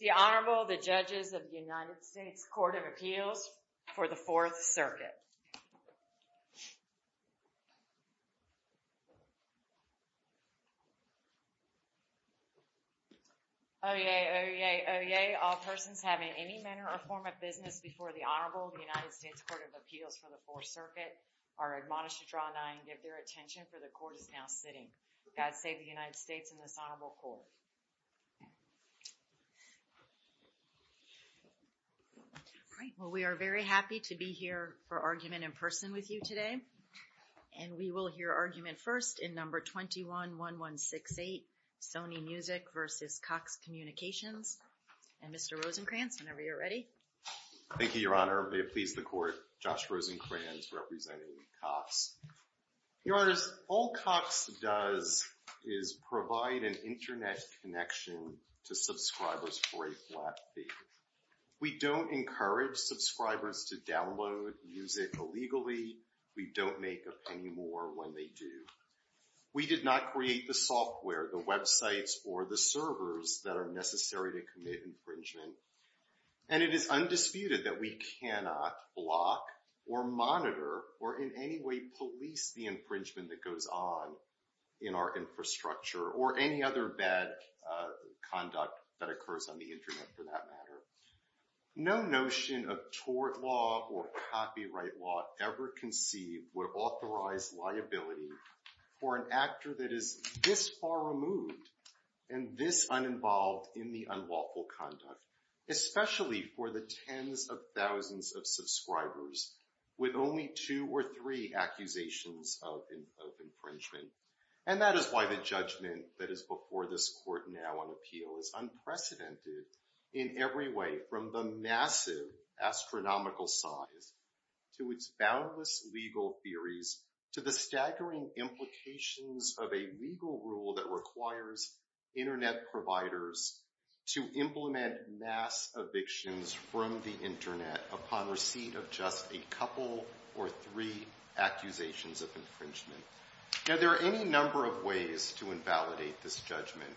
The Honorable, the Judges of the United States Court of Appeals for the Fourth Circuit. Oye, oye, oye, all persons having any manner or form of business before the Honorable of the United States Court of Appeals for the Fourth Circuit are admonished to draw an eye and give their attention for the Court is now sitting. God save the United States and this Honorable Court. All right. Well, we are very happy to be here for argument in person with you today. And we will hear argument first in number 21-1168, Sony Music v. Cox Communications. And Mr. Rosenkranz, whenever you're ready. Thank you, Your Honor. May it please the Court. Josh Rosenkranz, representing Cox. Your Honors, all Cox does is provide an internet connection to subscribers for a flat fee. We don't encourage subscribers to download music illegally. We don't make a penny more when they do. We did not create the software, the websites, or the servers that are necessary to commit infringement. And it is undisputed that we cannot block or monitor or in any way police the infringement that goes on in our infrastructure or any other bad conduct that occurs on the internet for that matter. No notion of tort law or copyright law ever conceived would authorize liability for an actor that is this far removed and this uninvolved in the unlawful conduct, especially for the tens of thousands of subscribers with only two or three accusations of infringement. And that is why the judgment that is before this Court now on appeal is unprecedented in every way, from the massive astronomical size to its boundless legal theories to the staggering implications of a legal rule that requires internet providers to implement mass evictions from the internet upon receipt of just a couple or three accusations of infringement. Now, there are any number of ways to invalidate this judgment.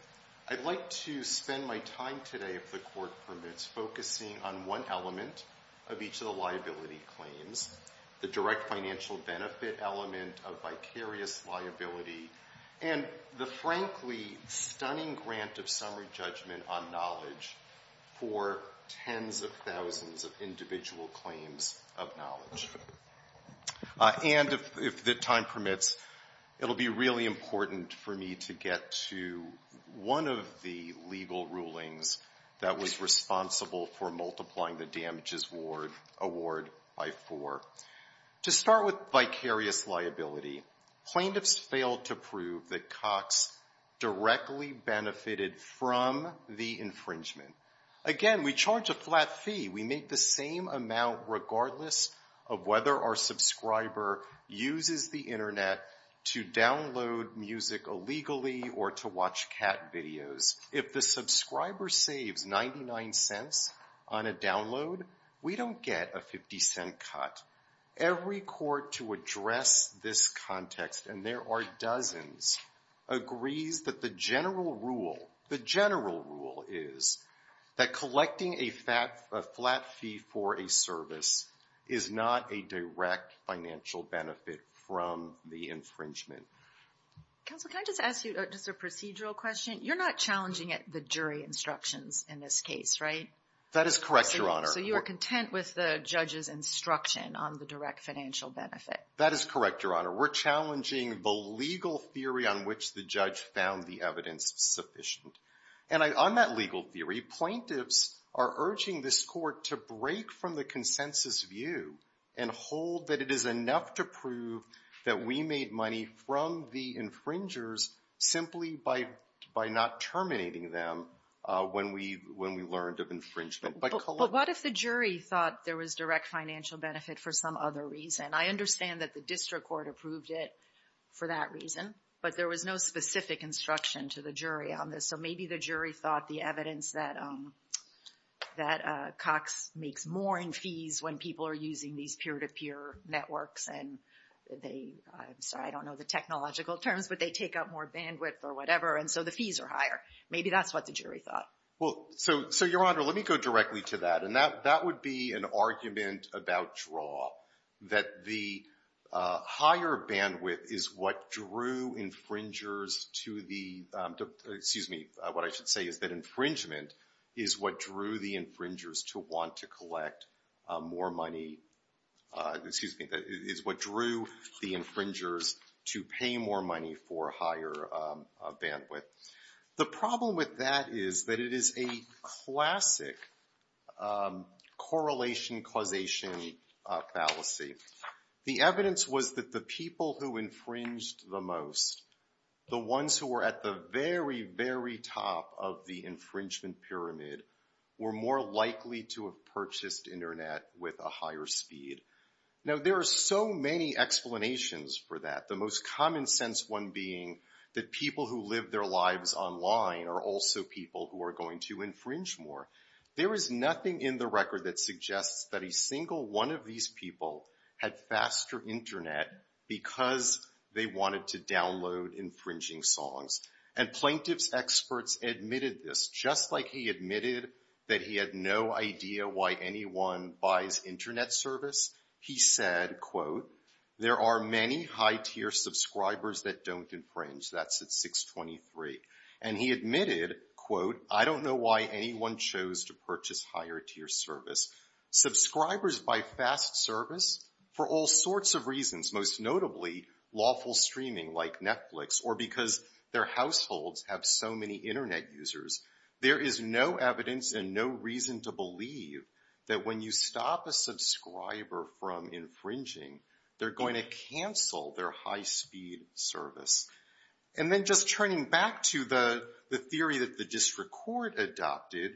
I'd like to spend my time today, if the Court permits, focusing on one element of each of the liability claims, the direct financial benefit element of vicarious liability, and the frankly stunning grant of summary judgment on knowledge for tens of thousands of individual claims of knowledge. And if time permits, it will be really important for me to get to one of the legal rulings that was responsible for multiplying the damages award by four. To start with vicarious liability, plaintiffs failed to prove that Cox directly benefited from the infringement. Again, we charge a flat fee. We make the same amount regardless of whether our subscriber uses the internet to download music illegally or to watch cat videos. If the subscriber saves $0.99 on a download, we don't get a $0.50 cut. Every court to address this context, and there are dozens, agrees that the general rule, the general rule is that collecting a flat fee for a service is not a direct financial benefit from the infringement. Counsel, can I just ask you just a procedural question? You're not challenging the jury instructions in this case, right? That is correct, Your Honor. So you are content with the judge's instruction on the direct financial benefit? That is correct, Your Honor. We're challenging the legal theory on which the judge found the evidence sufficient. And on that legal theory, plaintiffs are urging this Court to break from the consensus view and hold that it is enough to prove that we made money from the infringers simply by not terminating them when we learned of infringement. But what if the jury thought there was direct financial benefit for some other reason? I understand that the district court approved it for that reason, but there was no specific instruction to the jury on this. So maybe the jury thought the evidence that Cox makes more in fees when people are using these peer-to-peer networks, and they, I'm sorry, I don't know the technological terms, but they take up more bandwidth or whatever, and so the fees are higher. Maybe that's what the jury thought. Well, so, Your Honor, let me go directly to that. And that would be an argument about draw, that the higher bandwidth is what drew infringers to the, excuse me, what I should say is that infringement is what drew the infringers to want to collect more money, excuse me, is what drew the infringers to pay more money for higher bandwidth. The problem with that is that it is a classic correlation-causation fallacy. The evidence was that the people who infringed the most, the ones who were at the very, very top of the infringement pyramid, were more likely to have purchased Internet with a higher speed. Now, there are so many explanations for that. The most common sense one being that people who live their lives online are also people who are going to infringe more. There is nothing in the record that suggests that a single one of these people had faster Internet because they wanted to download infringing songs. And plaintiff's experts admitted this, just like he admitted that he had no idea why anyone buys Internet service. He said, quote, there are many high-tier subscribers that don't infringe. That's at 623. And he admitted, quote, I don't know why anyone chose to purchase higher-tier service. Subscribers buy fast service for all sorts of reasons, most notably lawful streaming like Netflix or because their households have so many Internet users. There is no evidence and no reason to believe that when you stop a subscriber from infringing, they're going to cancel their high-speed service. And then just turning back to the theory that the district court adopted,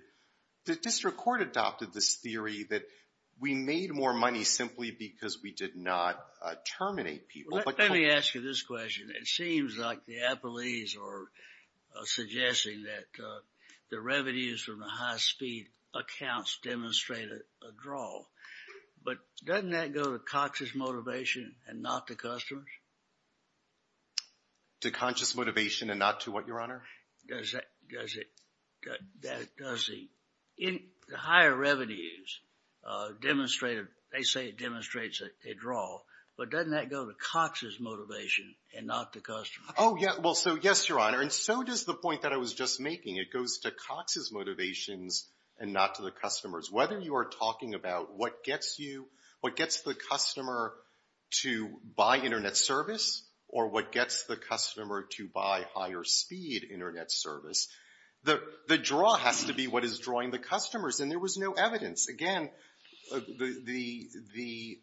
the district court adopted this theory that we made more money simply because we did not terminate people. Let me ask you this question. It seems like the appellees are suggesting that the revenues from the high-speed accounts demonstrate a draw. But doesn't that go to conscious motivation and not to customers? To conscious motivation and not to what, Your Honor? Does the higher revenues demonstrate a draw? But doesn't that go to conscious motivation and not to customers? Oh, yeah. Well, so, yes, Your Honor. And so does the point that I was just making. It goes to conscious motivations and not to the customers. Whether you are talking about what gets you, what gets the customer to buy Internet service or what gets the customer to buy higher-speed Internet service, the draw has to be what is drawing the customers. And there was no evidence. Again, the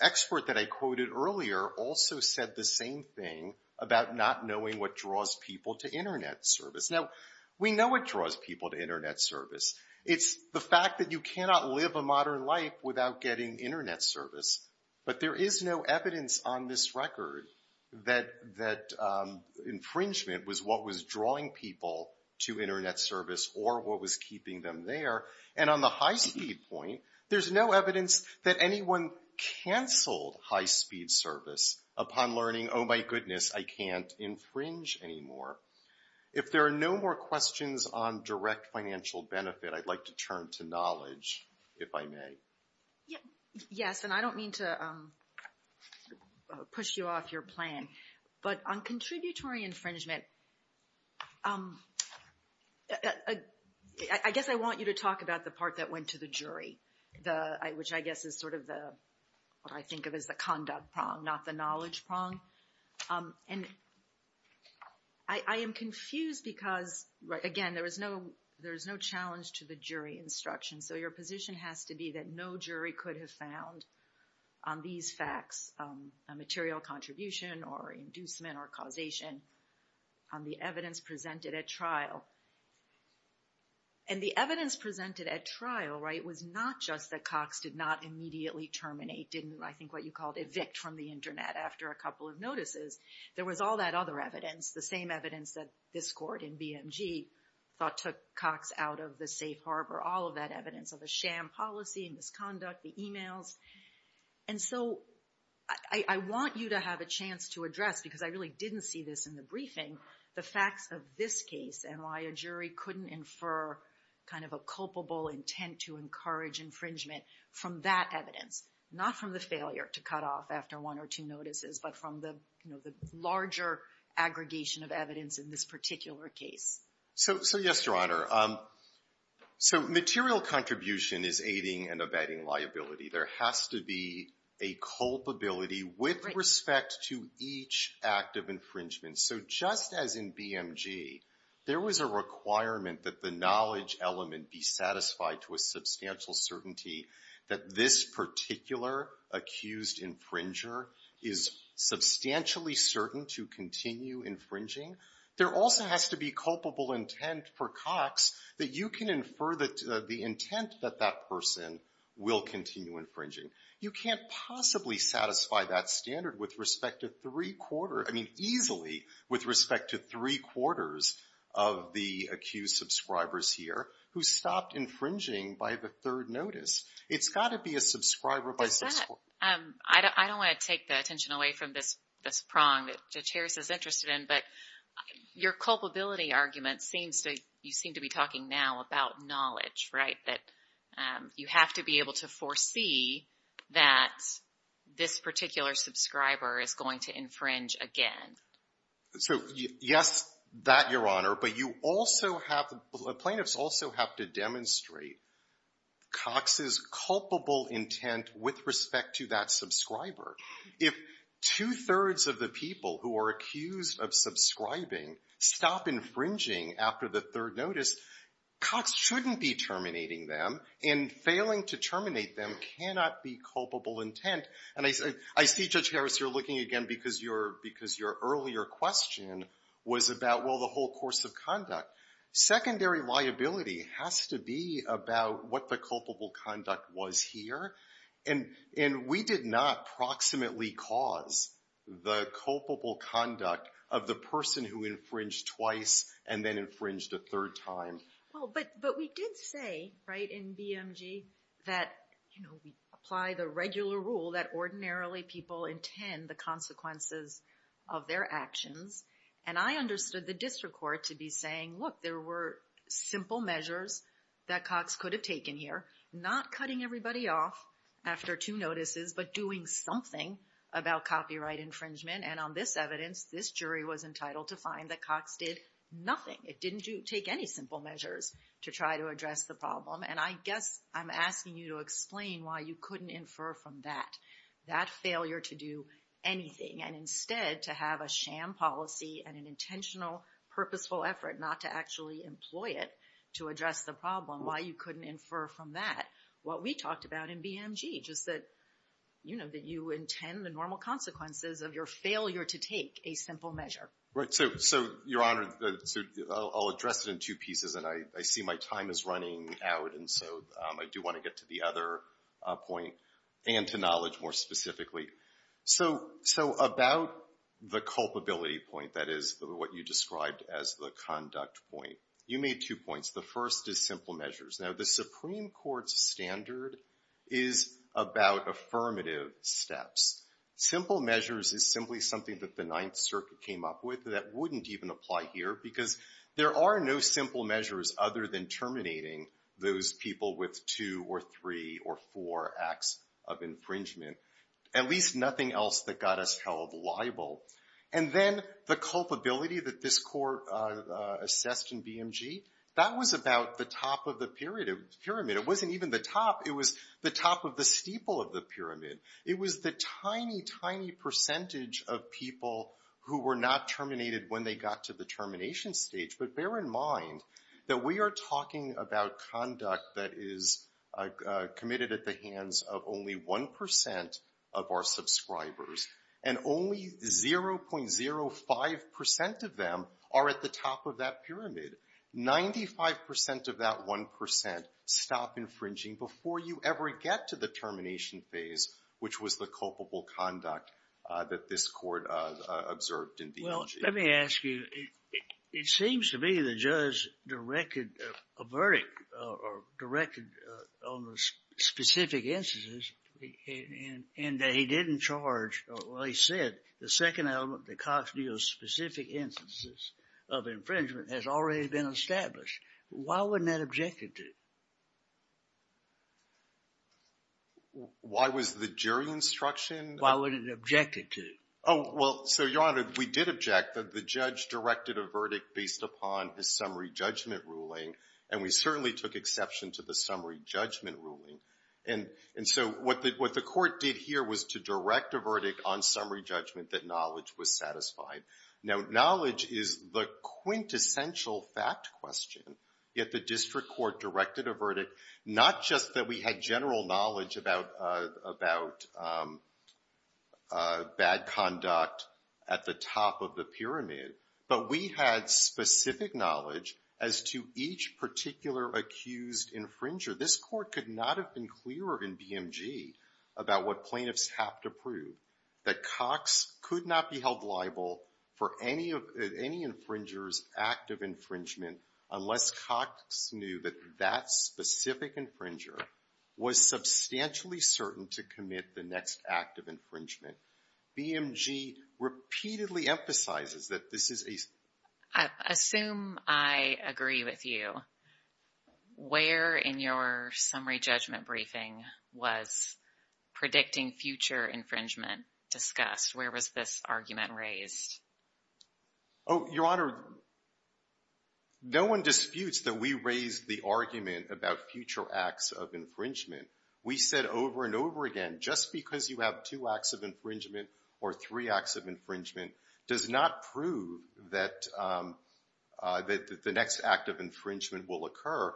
expert that I quoted earlier also said the same thing about not knowing what draws people to Internet service. Now, we know what draws people to Internet service. It's the fact that you cannot live a modern life without getting Internet service. But there is no evidence on this record that infringement was what was drawing people to Internet service or what was keeping them there. And on the high-speed point, there's no evidence that anyone canceled high-speed service upon learning, oh, my goodness, I can't infringe anymore. If there are no more questions on direct financial benefit, I'd like to turn to knowledge, if I may. Yes, and I don't mean to push you off your plan. But on contributory infringement, I guess I want you to talk about the part that went to the jury, which I guess is sort of what I think of as the conduct prong, not the knowledge prong. And I am confused because, again, there is no challenge to the jury instruction. So your position has to be that no jury could have found on these facts a material contribution or inducement or causation on the evidence presented at trial. And the evidence presented at trial, right, was not just that Cox did not immediately terminate, didn't, I think, what you called evict from the Internet after a couple of notices. There was all that other evidence, the same evidence that this court in BMG thought took Cox out of the safe harbor. All of that evidence of the sham policy and misconduct, the emails. And so I want you to have a chance to address, because I really didn't see this in the briefing, the facts of this case and why a jury couldn't infer kind of a culpable intent to encourage infringement from that evidence, not from the failure to cut off after one or two notices, but from the larger aggregation of evidence in this particular case. So yes, Your Honor. So material contribution is aiding and abetting liability. There has to be a culpability with respect to each act of infringement. So just as in BMG, there was a requirement that the knowledge element be satisfied to a substantial certainty that this particular accused infringer is substantially certain to continue infringing, there also has to be culpable intent for Cox that you can infer the intent that that person will continue infringing. You can't possibly satisfy that standard with respect to three quarters, I mean easily, with respect to three quarters of the accused subscribers here who stopped infringing by the third notice. It's got to be a subscriber by six quarters. Well, I don't want to take the attention away from this prong that Judge Harris is interested in, but your culpability argument seems to be talking now about knowledge, right, that you have to be able to foresee that this particular subscriber is going to infringe again. So yes, that, Your Honor. But you also have the plaintiffs also have to demonstrate Cox's culpable intent with respect to that subscriber. If two-thirds of the people who are accused of subscribing stop infringing after the third notice, Cox shouldn't be terminating them, and failing to terminate them cannot be culpable intent. And I see, Judge Harris, you're looking again because your earlier question was about, well, the whole course of conduct. Secondary liability has to be about what the culpable conduct was here, and we did not proximately cause the culpable conduct of the person who infringed twice and then infringed a third time. Well, but we did say, right, in BMG that, you know, we apply the regular rule that ordinarily people intend the consequences of their actions. And I understood the district court to be saying, look, there were simple measures that Cox could have taken here, not cutting everybody off after two notices, but doing something about copyright infringement. And on this evidence, this jury was entitled to find that Cox did nothing. It didn't take any simple measures to try to address the problem. And I guess I'm asking you to explain why you couldn't infer from that, that failure to do anything, and instead to have a sham policy and an intentional, purposeful effort not to actually employ it to address the problem. Why you couldn't infer from that what we talked about in BMG, just that, you know, that you intend the normal consequences of your failure to take a simple measure. Right. So, Your Honor, I'll address it in two pieces. And I see my time is running out, and so I do want to get to the other point and to knowledge more specifically. So about the culpability point, that is what you described as the conduct point, you made two points. The first is simple measures. Now, the Supreme Court's standard is about affirmative steps. Simple measures is simply something that the Ninth Circuit came up with that wouldn't even apply here, because there are no simple measures other than terminating those people with two or three or four acts of infringement. At least nothing else that got us held liable. And then the culpability that this Court assessed in BMG, that was about the top of the pyramid. It wasn't even the top. It was the tiny, tiny percentage of people who were not terminated when they got to the termination stage. But bear in mind that we are talking about conduct that is committed at the hands of only 1% of our subscribers. And only 0.05% of them are at the top of that pyramid. 95% of that 1% stop infringing before you ever get to the termination phase, which was the culpable conduct that this Court observed in BMG. Well, let me ask you. It seems to me the judge directed a verdict or directed on the specific instances and that he didn't charge. Well, he said the second element, the cost of specific instances of infringement has already been established. Why wouldn't that object it to? Why was the jury instruction? Why wouldn't it object it to? Oh, well, so, Your Honor, we did object. The judge directed a verdict based upon his summary judgment ruling, and we certainly took exception to the summary judgment ruling. And so what the Court did here was to direct a verdict on summary judgment that knowledge was satisfied. Now, knowledge is the quintessential fact question, yet the District Court directed a verdict, not just that we had general knowledge about bad conduct at the top of the pyramid, but we had specific knowledge as to each particular accused infringer. This Court could not have been clearer in BMG about what plaintiffs have to prove, that Cox could not be held liable for any infringer's act of infringement unless Cox knew that that specific infringer was substantially certain to commit the next act of infringement. BMG repeatedly emphasizes that this is a — I assume I agree with you. Where in your summary judgment briefing was predicting future infringement discussed? Where was this argument raised? Oh, Your Honor, no one disputes that we raised the argument about future acts of infringement. We said over and over again, just because you have two acts of infringement or three acts of infringement does not prove that the next act of infringement will occur.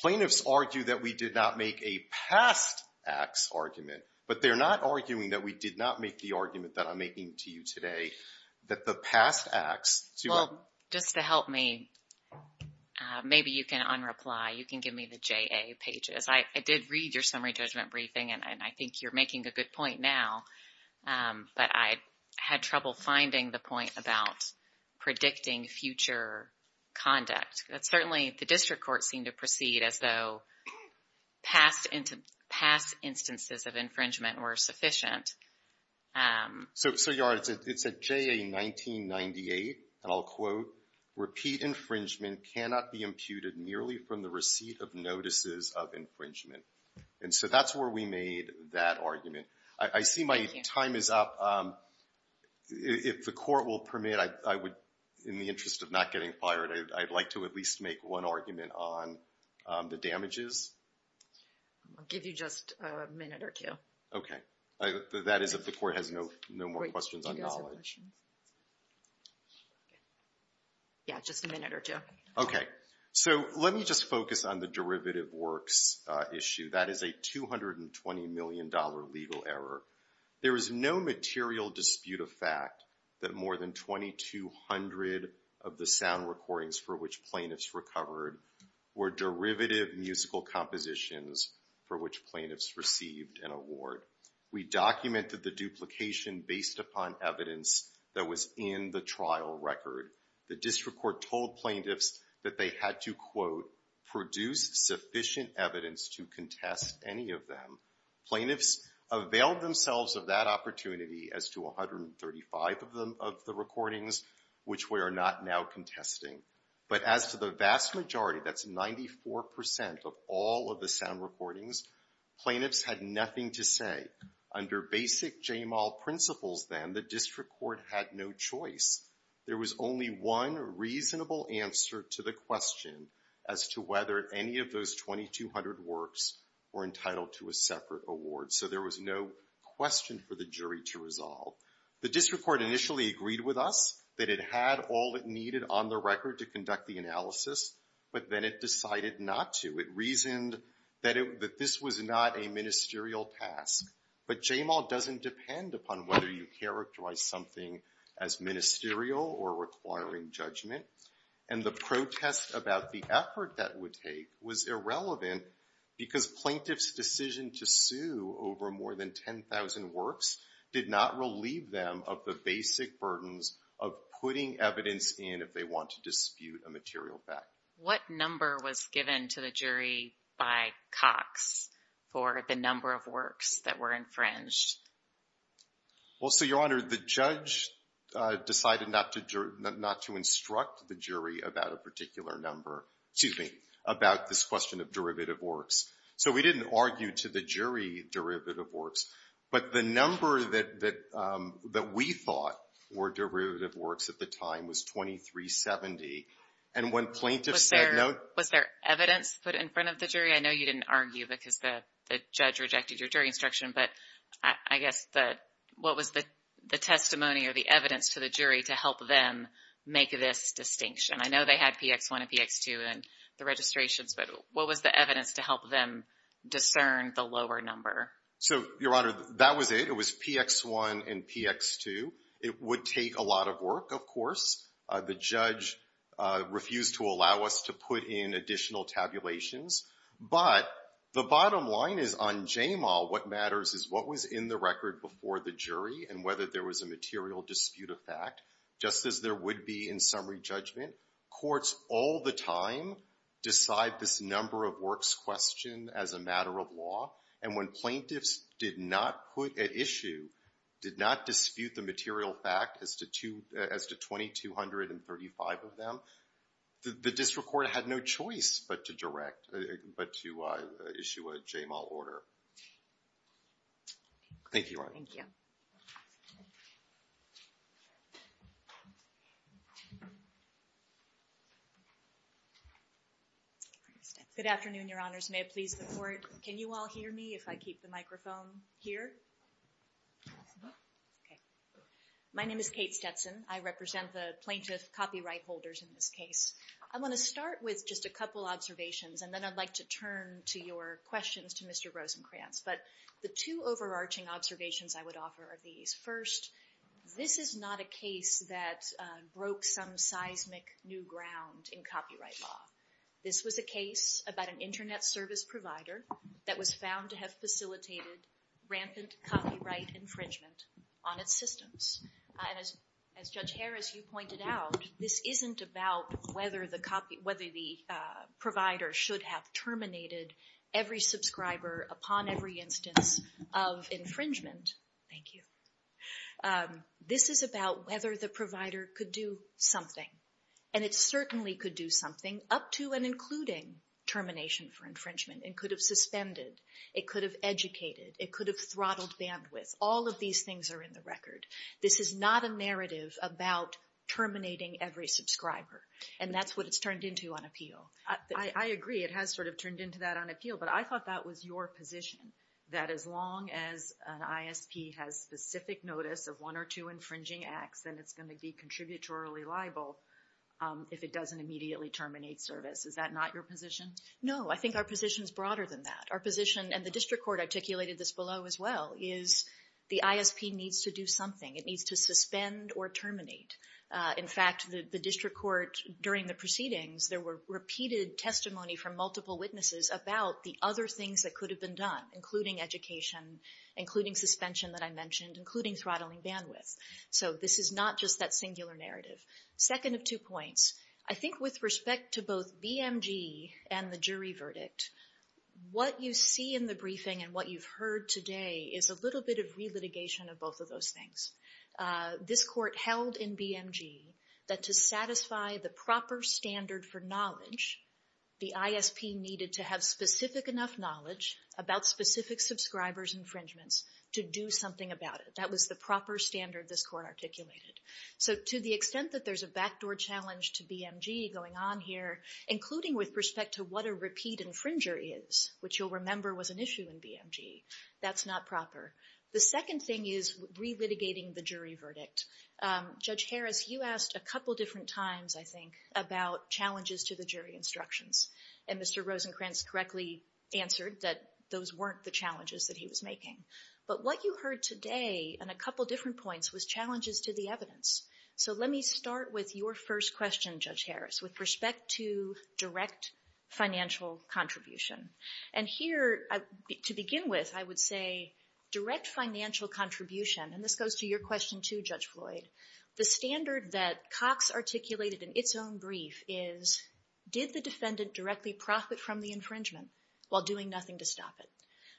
Plaintiffs argue that we did not make a past acts argument, but they're not arguing that we did not make the argument that I'm making to you today, that the past acts — Well, just to help me, maybe you can un-reply. You can give me the JA pages. I did read your summary judgment briefing, and I think you're making a good point now. But I had trouble finding the point about predicting future conduct. Certainly, the district courts seem to proceed as though past instances of infringement were sufficient. So, Your Honor, it's at JA 1998, and I'll quote, Repeat infringement cannot be imputed merely from the receipt of notices of infringement. And so that's where we made that argument. I see my time is up. If the court will permit, I would, in the interest of not getting fired, I'd like to at least make one argument on the damages. I'll give you just a minute or two. Okay. That is if the court has no more questions on knowledge. Yeah, just a minute or two. Okay. So let me just focus on the derivative works issue. That is a $220 million legal error. There is no material dispute of fact that more than 2,200 of the sound recordings for which plaintiffs recovered we documented the duplication based upon evidence that was in the trial record. The district court told plaintiffs that they had to, quote, produce sufficient evidence to contest any of them. Plaintiffs availed themselves of that opportunity as to 135 of the recordings, which we are not now contesting. But as to the vast majority, that's 94% of all of the sound recordings, plaintiffs had nothing to say. Under basic JMAL principles, then, the district court had no choice. There was only one reasonable answer to the question as to whether any of those 2,200 works were entitled to a separate award. So there was no question for the jury to resolve. The district court initially agreed with us that it had all it needed on the record to conduct the analysis, but then it decided not to. It reasoned that this was not a ministerial task. But JMAL doesn't depend upon whether you characterize something as ministerial or requiring judgment, and the protest about the effort that would take was irrelevant because plaintiffs' decision to sue over more than 10,000 works did not relieve them of the basic burdens of putting evidence in if they want to dispute a material fact. What number was given to the jury by Cox for the number of works that were infringed? Well, so, Your Honor, the judge decided not to instruct the jury about a particular number, excuse me, about this question of derivative works. So we didn't argue to the jury derivative works, but the number that we thought were derivative works at the time was 2,370. And when plaintiffs said no— Was there evidence put in front of the jury? I know you didn't argue because the judge rejected your jury instruction, but I guess what was the testimony or the evidence to the jury to help them make this distinction? I know they had PX1 and PX2 in the registrations, but what was the evidence to help them discern the lower number? So, Your Honor, that was it. It was PX1 and PX2. It would take a lot of work, of course. The judge refused to allow us to put in additional tabulations, but the bottom line is on JMAL what matters is what was in the record before the jury and whether there was a material dispute of fact, just as there would be in summary judgment. Courts all the time decide this number of works question as a matter of law, and when plaintiffs did not put at issue, did not dispute the material fact as to 2,235 of them, the district court had no choice but to direct, but to issue a JMAL order. Thank you, Your Honor. Thank you. Good afternoon, Your Honors. May I please look forward? Can you all hear me if I keep the microphone here? Okay. My name is Kate Stetson. I represent the plaintiff copyright holders in this case. I want to start with just a couple observations, and then I'd like to turn to your questions to Mr. Rosenkranz. But the two overarching observations I would offer are these. First, this is not a case that broke some seismic new ground in copyright law. This was a case about an Internet service provider that was found to have facilitated rampant copyright infringement on its systems. And as Judge Harris, you pointed out, this isn't about whether the provider should have terminated every subscriber upon every instance of infringement. Thank you. This is about whether the provider could do something, and it certainly could do something up to and including termination for infringement. It could have suspended. It could have educated. It could have throttled bandwidth. All of these things are in the record. This is not a narrative about terminating every subscriber, and that's what it's turned into on appeal. I agree. It has sort of turned into that on appeal, but I thought that was your position, that as long as an ISP has specific notice of one or two infringing acts, then it's going to be contributorily liable if it doesn't immediately terminate service. Is that not your position? No, I think our position is broader than that. Our position, and the district court articulated this below as well, is the ISP needs to do something. It needs to suspend or terminate. In fact, the district court, during the proceedings, there were repeated testimony from multiple witnesses about the other things that could have been done, including education, including suspension that I mentioned, including throttling bandwidth. So this is not just that singular narrative. Second of two points. I think with respect to both BMG and the jury verdict, what you see in the briefing and what you've heard today is a little bit of relitigation of both of those things. This court held in BMG that to satisfy the proper standard for knowledge, the ISP needed to have specific enough knowledge about specific subscriber's infringements to do something about it. That was the proper standard this court articulated. So to the extent that there's a backdoor challenge to BMG going on here, including with respect to what a repeat infringer is, which you'll remember was an issue in BMG, that's not proper. The second thing is relitigating the jury verdict. Judge Harris, you asked a couple different times, I think, about challenges to the jury instructions, and Mr. Rosenkranz correctly answered that those weren't the challenges that he was making. But what you heard today on a couple different points was challenges to the evidence. So let me start with your first question, Judge Harris, with respect to direct financial contribution. And here, to begin with, I would say direct financial contribution, and this goes to your question too, Judge Floyd, the standard that Cox articulated in its own brief is, did the defendant directly profit from the infringement while doing nothing to stop it?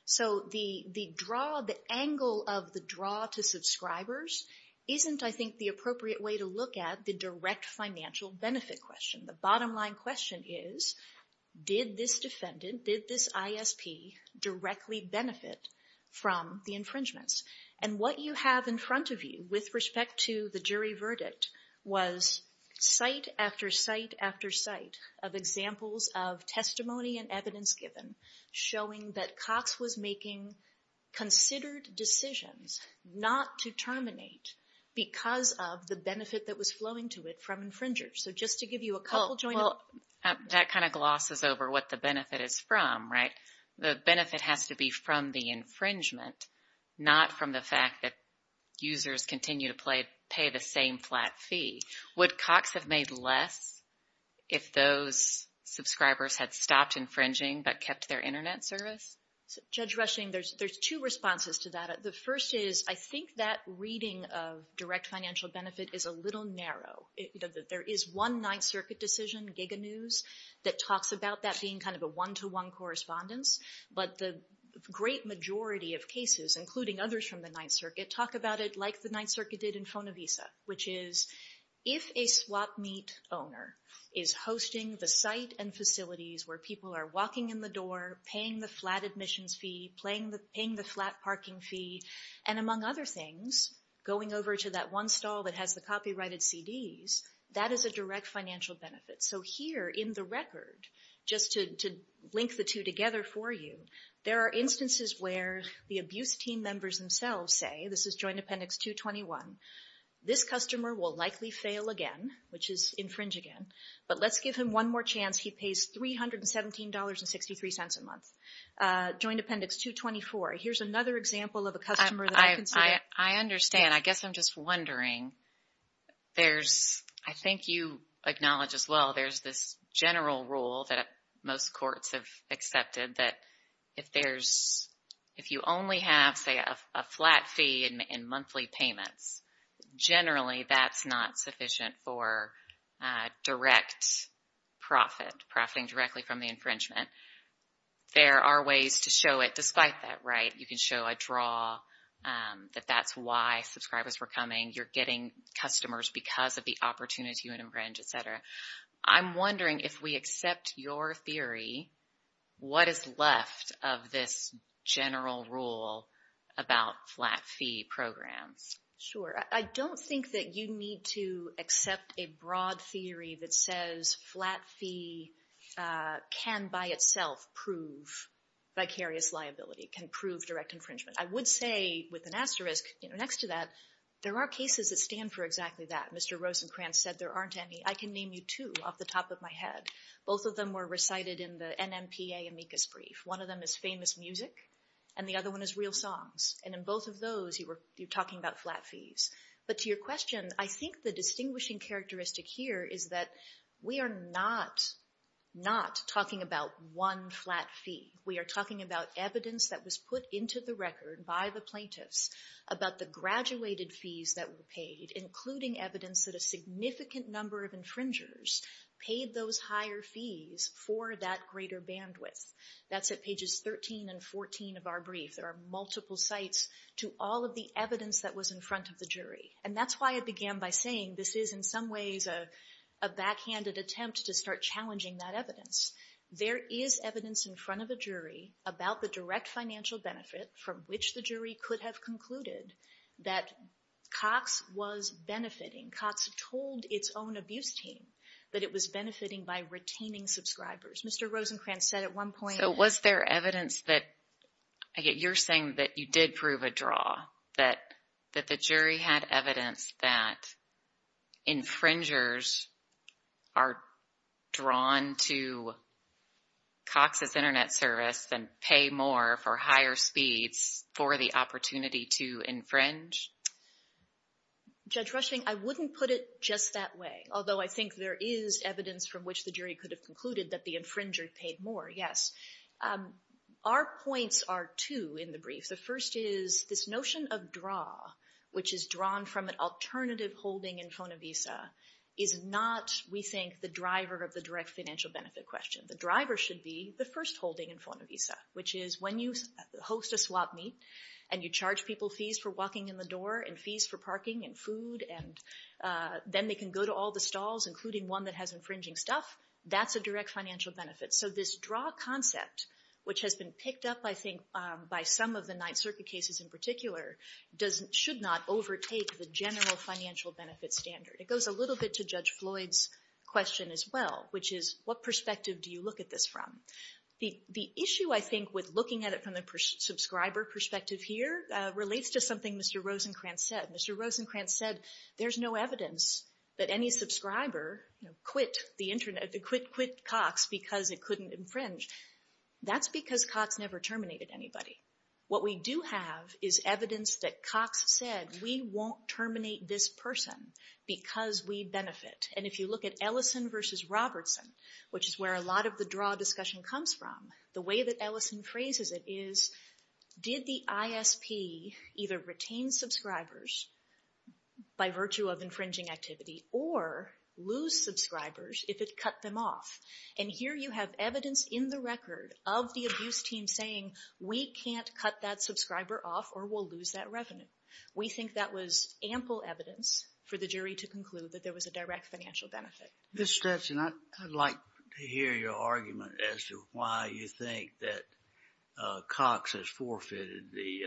So the draw, the angle of the draw to subscribers, isn't, I think, the appropriate way to look at the direct financial benefit question. The bottom line question is, did this defendant, did this ISP, directly benefit from the infringements? And what you have in front of you with respect to the jury verdict was site after site after site of examples of testimony and evidence given showing that Cox was making considered decisions not to terminate because of the benefit that was flowing to it from infringers. So just to give you a couple joint... Well, that kind of glosses over what the benefit is from, right? The benefit has to be from the infringement, not from the fact that users continue to pay the same flat fee. Would Cox have made less if those subscribers had stopped infringing but kept their Internet service? Judge Rushing, there's two responses to that. The first is I think that reading of direct financial benefit is a little narrow. There is one Ninth Circuit decision, Giga News, that talks about that being kind of a one-to-one correspondence, but the great majority of cases, including others from the Ninth Circuit, talk about it like the Ninth Circuit did in Fonavisa, which is if a swap meet owner is hosting the site and facilities where people are walking in the door, paying the flat admissions fee, paying the flat parking fee, and among other things, going over to that one stall that has the copyrighted CDs, that is a direct financial benefit. So here in the record, just to link the two together for you, there are instances where the abuse team members themselves say, this is Joint Appendix 221, this customer will likely fail again, which is infringe again, but let's give him one more chance. He pays $317.63 a month. Joint Appendix 224. Here's another example of a customer that I consider. I understand. I guess I'm just wondering. There's, I think you acknowledge as well, there's this general rule that most courts have accepted that if there's, if you only have, say, a flat fee and monthly payments, generally that's not sufficient for direct profit, profiting directly from the infringement. There are ways to show it despite that, right? You can show a draw that that's why subscribers were coming. You're getting customers because of the opportunity to infringe, et cetera. I'm wondering if we accept your theory, what is left of this general rule about flat fee programs? Sure. I don't think that you need to accept a broad theory that says flat fee can by itself prove vicarious liability, can prove direct infringement. I would say with an asterisk next to that, there are cases that stand for exactly that. Mr. Rosencrantz said there aren't any. I can name you two off the top of my head. Both of them were recited in the NMPA amicus brief. One of them is famous music and the other one is real songs. In both of those, you're talking about flat fees. To your question, I think the distinguishing characteristic here is that we are not talking about one flat fee. We are talking about evidence that was put into the record by the plaintiffs about the graduated fees that were paid, including evidence that a significant number of infringers paid those higher fees for that greater bandwidth. That's at pages 13 and 14 of our brief. There are multiple sites to all of the evidence that was in front of the jury. And that's why I began by saying this is, in some ways, a backhanded attempt to start challenging that evidence. There is evidence in front of a jury about the direct financial benefit from which the jury could have concluded that Cox was benefiting. Cox told its own abuse team that it was benefiting by retaining subscribers. Mr. Rosencrantz said at one point So was there evidence that, you're saying that you did prove a draw, that the jury had evidence that infringers are drawn to Cox's Internet service and pay more for higher speeds for the opportunity to infringe? Judge Rushing, I wouldn't put it just that way, although I think there is evidence from which the jury could have concluded that the infringer paid more, yes. Our points are two in the brief. The first is this notion of draw, which is drawn from an alternative holding in Fonavisa, is not, we think, the driver of the direct financial benefit question. The driver should be the first holding in Fonavisa, which is when you host a swap meet, and you charge people fees for walking in the door and fees for parking and food, and then they can go to all the stalls, including one that has infringing stuff, that's a direct financial benefit. So this draw concept, which has been picked up, I think, by some of the Ninth Circuit cases in particular, should not overtake the general financial benefit standard. It goes a little bit to Judge Floyd's question as well, which is what perspective do you look at this from? The issue, I think, with looking at it from the subscriber perspective here relates to something Mr. Rosencrantz said. Mr. Rosencrantz said there's no evidence that any subscriber quit Cox because it couldn't infringe. That's because Cox never terminated anybody. What we do have is evidence that Cox said, we won't terminate this person because we benefit. And if you look at Ellison versus Robertson, which is where a lot of the draw discussion comes from, the way that Ellison phrases it is, did the ISP either retain subscribers by virtue of infringing activity or lose subscribers if it cut them off? And here you have evidence in the record of the abuse team saying, we can't cut that subscriber off or we'll lose that revenue. We think that was ample evidence for the jury to conclude that there was a direct financial benefit. Ms. Stetson, I'd like to hear your argument as to why you think that Cox has forfeited the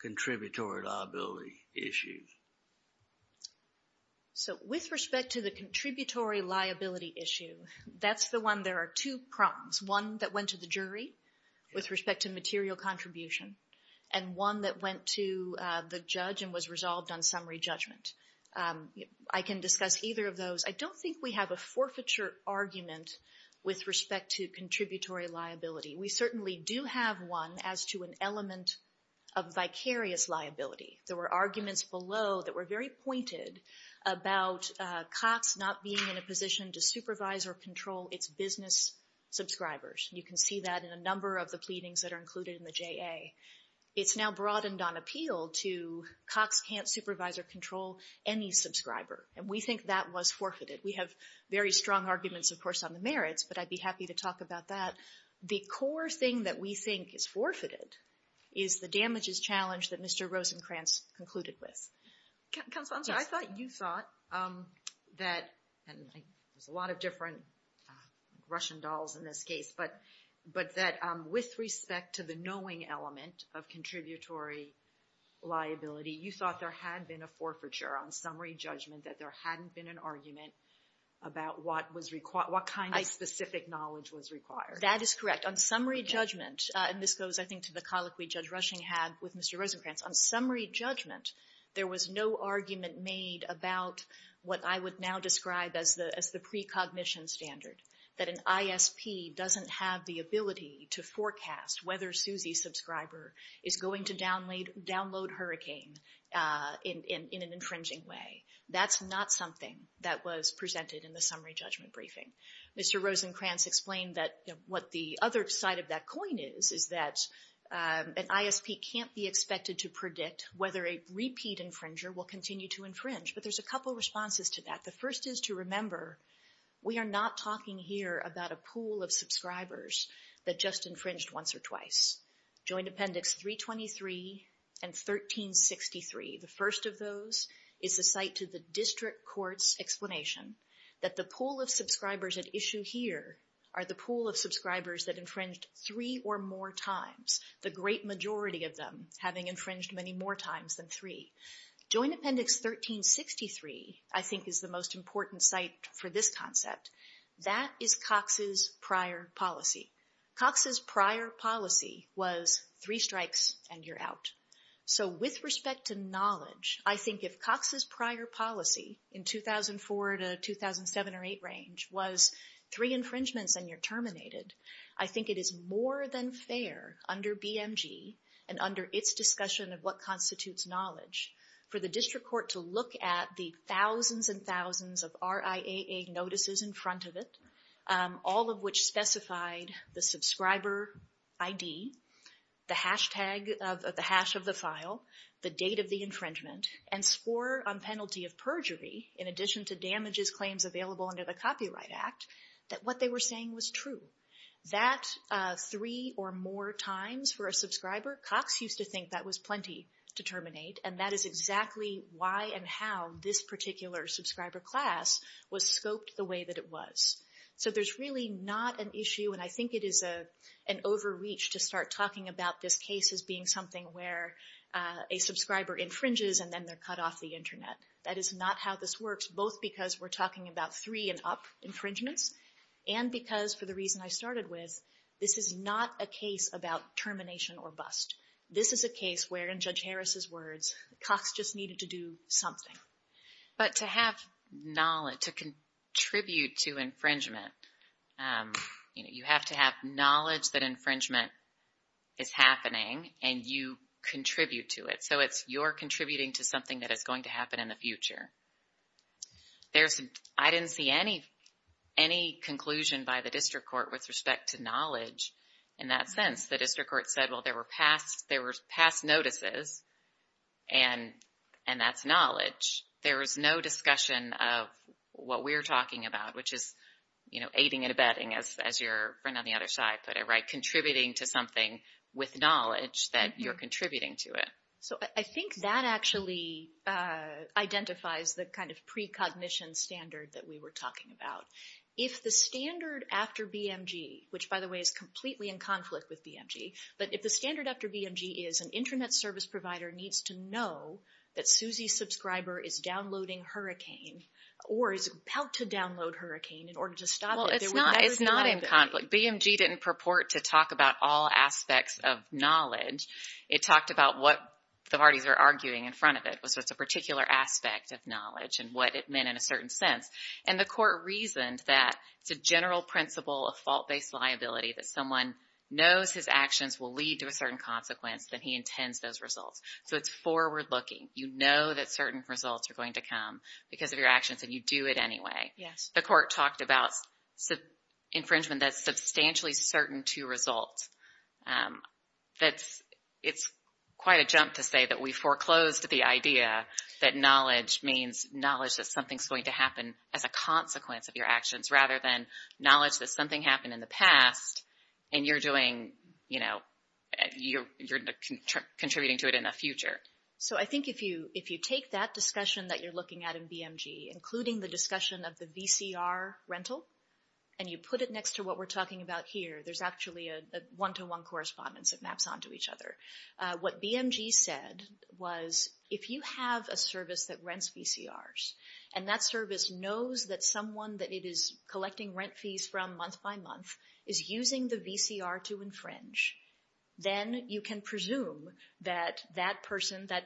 contributory liability issue. So with respect to the contributory liability issue, that's the one, there are two prongs. One that went to the jury with respect to material contribution and one that went to the judge and was resolved on summary judgment. I can discuss either of those. I don't think we have a forfeiture argument with respect to contributory liability. We certainly do have one as to an element of vicarious liability. There were arguments below that were very pointed about Cox not being in a position to supervise or control its business subscribers. You can see that in a number of the pleadings that are included in the JA. It's now broadened on appeal to Cox can't supervise or control any subscriber. And we think that was forfeited. We have very strong arguments, of course, on the merits, but I'd be happy to talk about that. The core thing that we think is forfeited is the damages challenge that Mr. Rosenkranz concluded with. Counsel, I thought you thought that, and there's a lot of different Russian dolls in this case, but that with respect to the knowing element of contributory liability, you thought there had been a forfeiture on summary judgment, that there hadn't been an argument about what was required, what kind of specific knowledge was required. On summary judgment, and this goes, I think, to the colloquy Judge Rushing had with Mr. Rosenkranz, on summary judgment, there was no argument made about what I would now describe as the precognition standard, that an ISP doesn't have the ability to forecast whether Suzy's subscriber is going to download Hurricane in an infringing way. That's not something that was presented in the summary judgment briefing. Mr. Rosenkranz explained that what the other side of that coin is, is that an ISP can't be expected to predict whether a repeat infringer will continue to infringe, but there's a couple responses to that. The first is to remember we are not talking here about a pool of subscribers that just infringed once or twice. Joint Appendix 323 and 1363, the first of those is the site to the district court's explanation that the pool of subscribers at issue here are the pool of subscribers that infringed three or more times, the great majority of them having infringed many more times than three. Joint Appendix 1363, I think, is the most important site for this concept. That is Cox's prior policy. Cox's prior policy was three strikes and you're out. So with respect to knowledge, I think if Cox's prior policy in 2004 to 2007 or 2008 range was three infringements and you're terminated, I think it is more than fair under BMG and under its discussion of what constitutes knowledge for the district court to look at the thousands and thousands of RIAA notices in front of it, all of which specified the subscriber ID, the hash of the file, the date of the infringement, and score on penalty of perjury, in addition to damages claims available under the Copyright Act, that what they were saying was true. That three or more times for a subscriber, Cox used to think that was plenty to terminate, and that is exactly why and how this particular subscriber class was scoped the way that it was. So there's really not an issue, and I think it is an overreach to start talking about this case as being something where a subscriber infringes and then they're cut off the Internet. That is not how this works, both because we're talking about three and up infringements and because for the reason I started with, this is not a case about termination or bust. This is a case where, in Judge Harris's words, Cox just needed to do something. But to have knowledge, to contribute to infringement, you have to have knowledge that infringement is happening and you contribute to it. So it's you're contributing to something that is going to happen in the future. I didn't see any conclusion by the district court with respect to knowledge in that sense. The district court said, well, there were past notices, and that's knowledge. There was no discussion of what we're talking about, which is aiding and abetting, as your friend on the other side put it right, contributing to something with knowledge that you're contributing to it. So I think that actually identifies the kind of precognition standard that we were talking about. If the standard after BMG, which, by the way, is completely in conflict with BMG, but if the standard after BMG is an Internet service provider needs to know that Suzy's subscriber is downloading Hurricane or is about to download Hurricane in order to stop it. Well, it's not in conflict. BMG didn't purport to talk about all aspects of knowledge. It talked about what the parties are arguing in front of it, so it's a particular aspect of knowledge and what it meant in a certain sense. And the court reasoned that it's a general principle of fault-based liability, that someone knows his actions will lead to a certain consequence, that he intends those results. So it's forward-looking. You know that certain results are going to come because of your actions, and you do it anyway. Yes. The court talked about infringement that's substantially certain to result. It's quite a jump to say that we foreclosed the idea that knowledge means knowledge that something's going to happen as a consequence of your actions rather than knowledge that something happened in the past and you're doing, you know, you're contributing to it in the future. So I think if you take that discussion that you're looking at in BMG, including the discussion of the VCR rental, and you put it next to what we're talking about here, there's actually a one-to-one correspondence that maps onto each other. What BMG said was if you have a service that rents VCRs and that service knows that someone that it is collecting rent fees from month by month is using the VCR to infringe, then you can presume that that person, that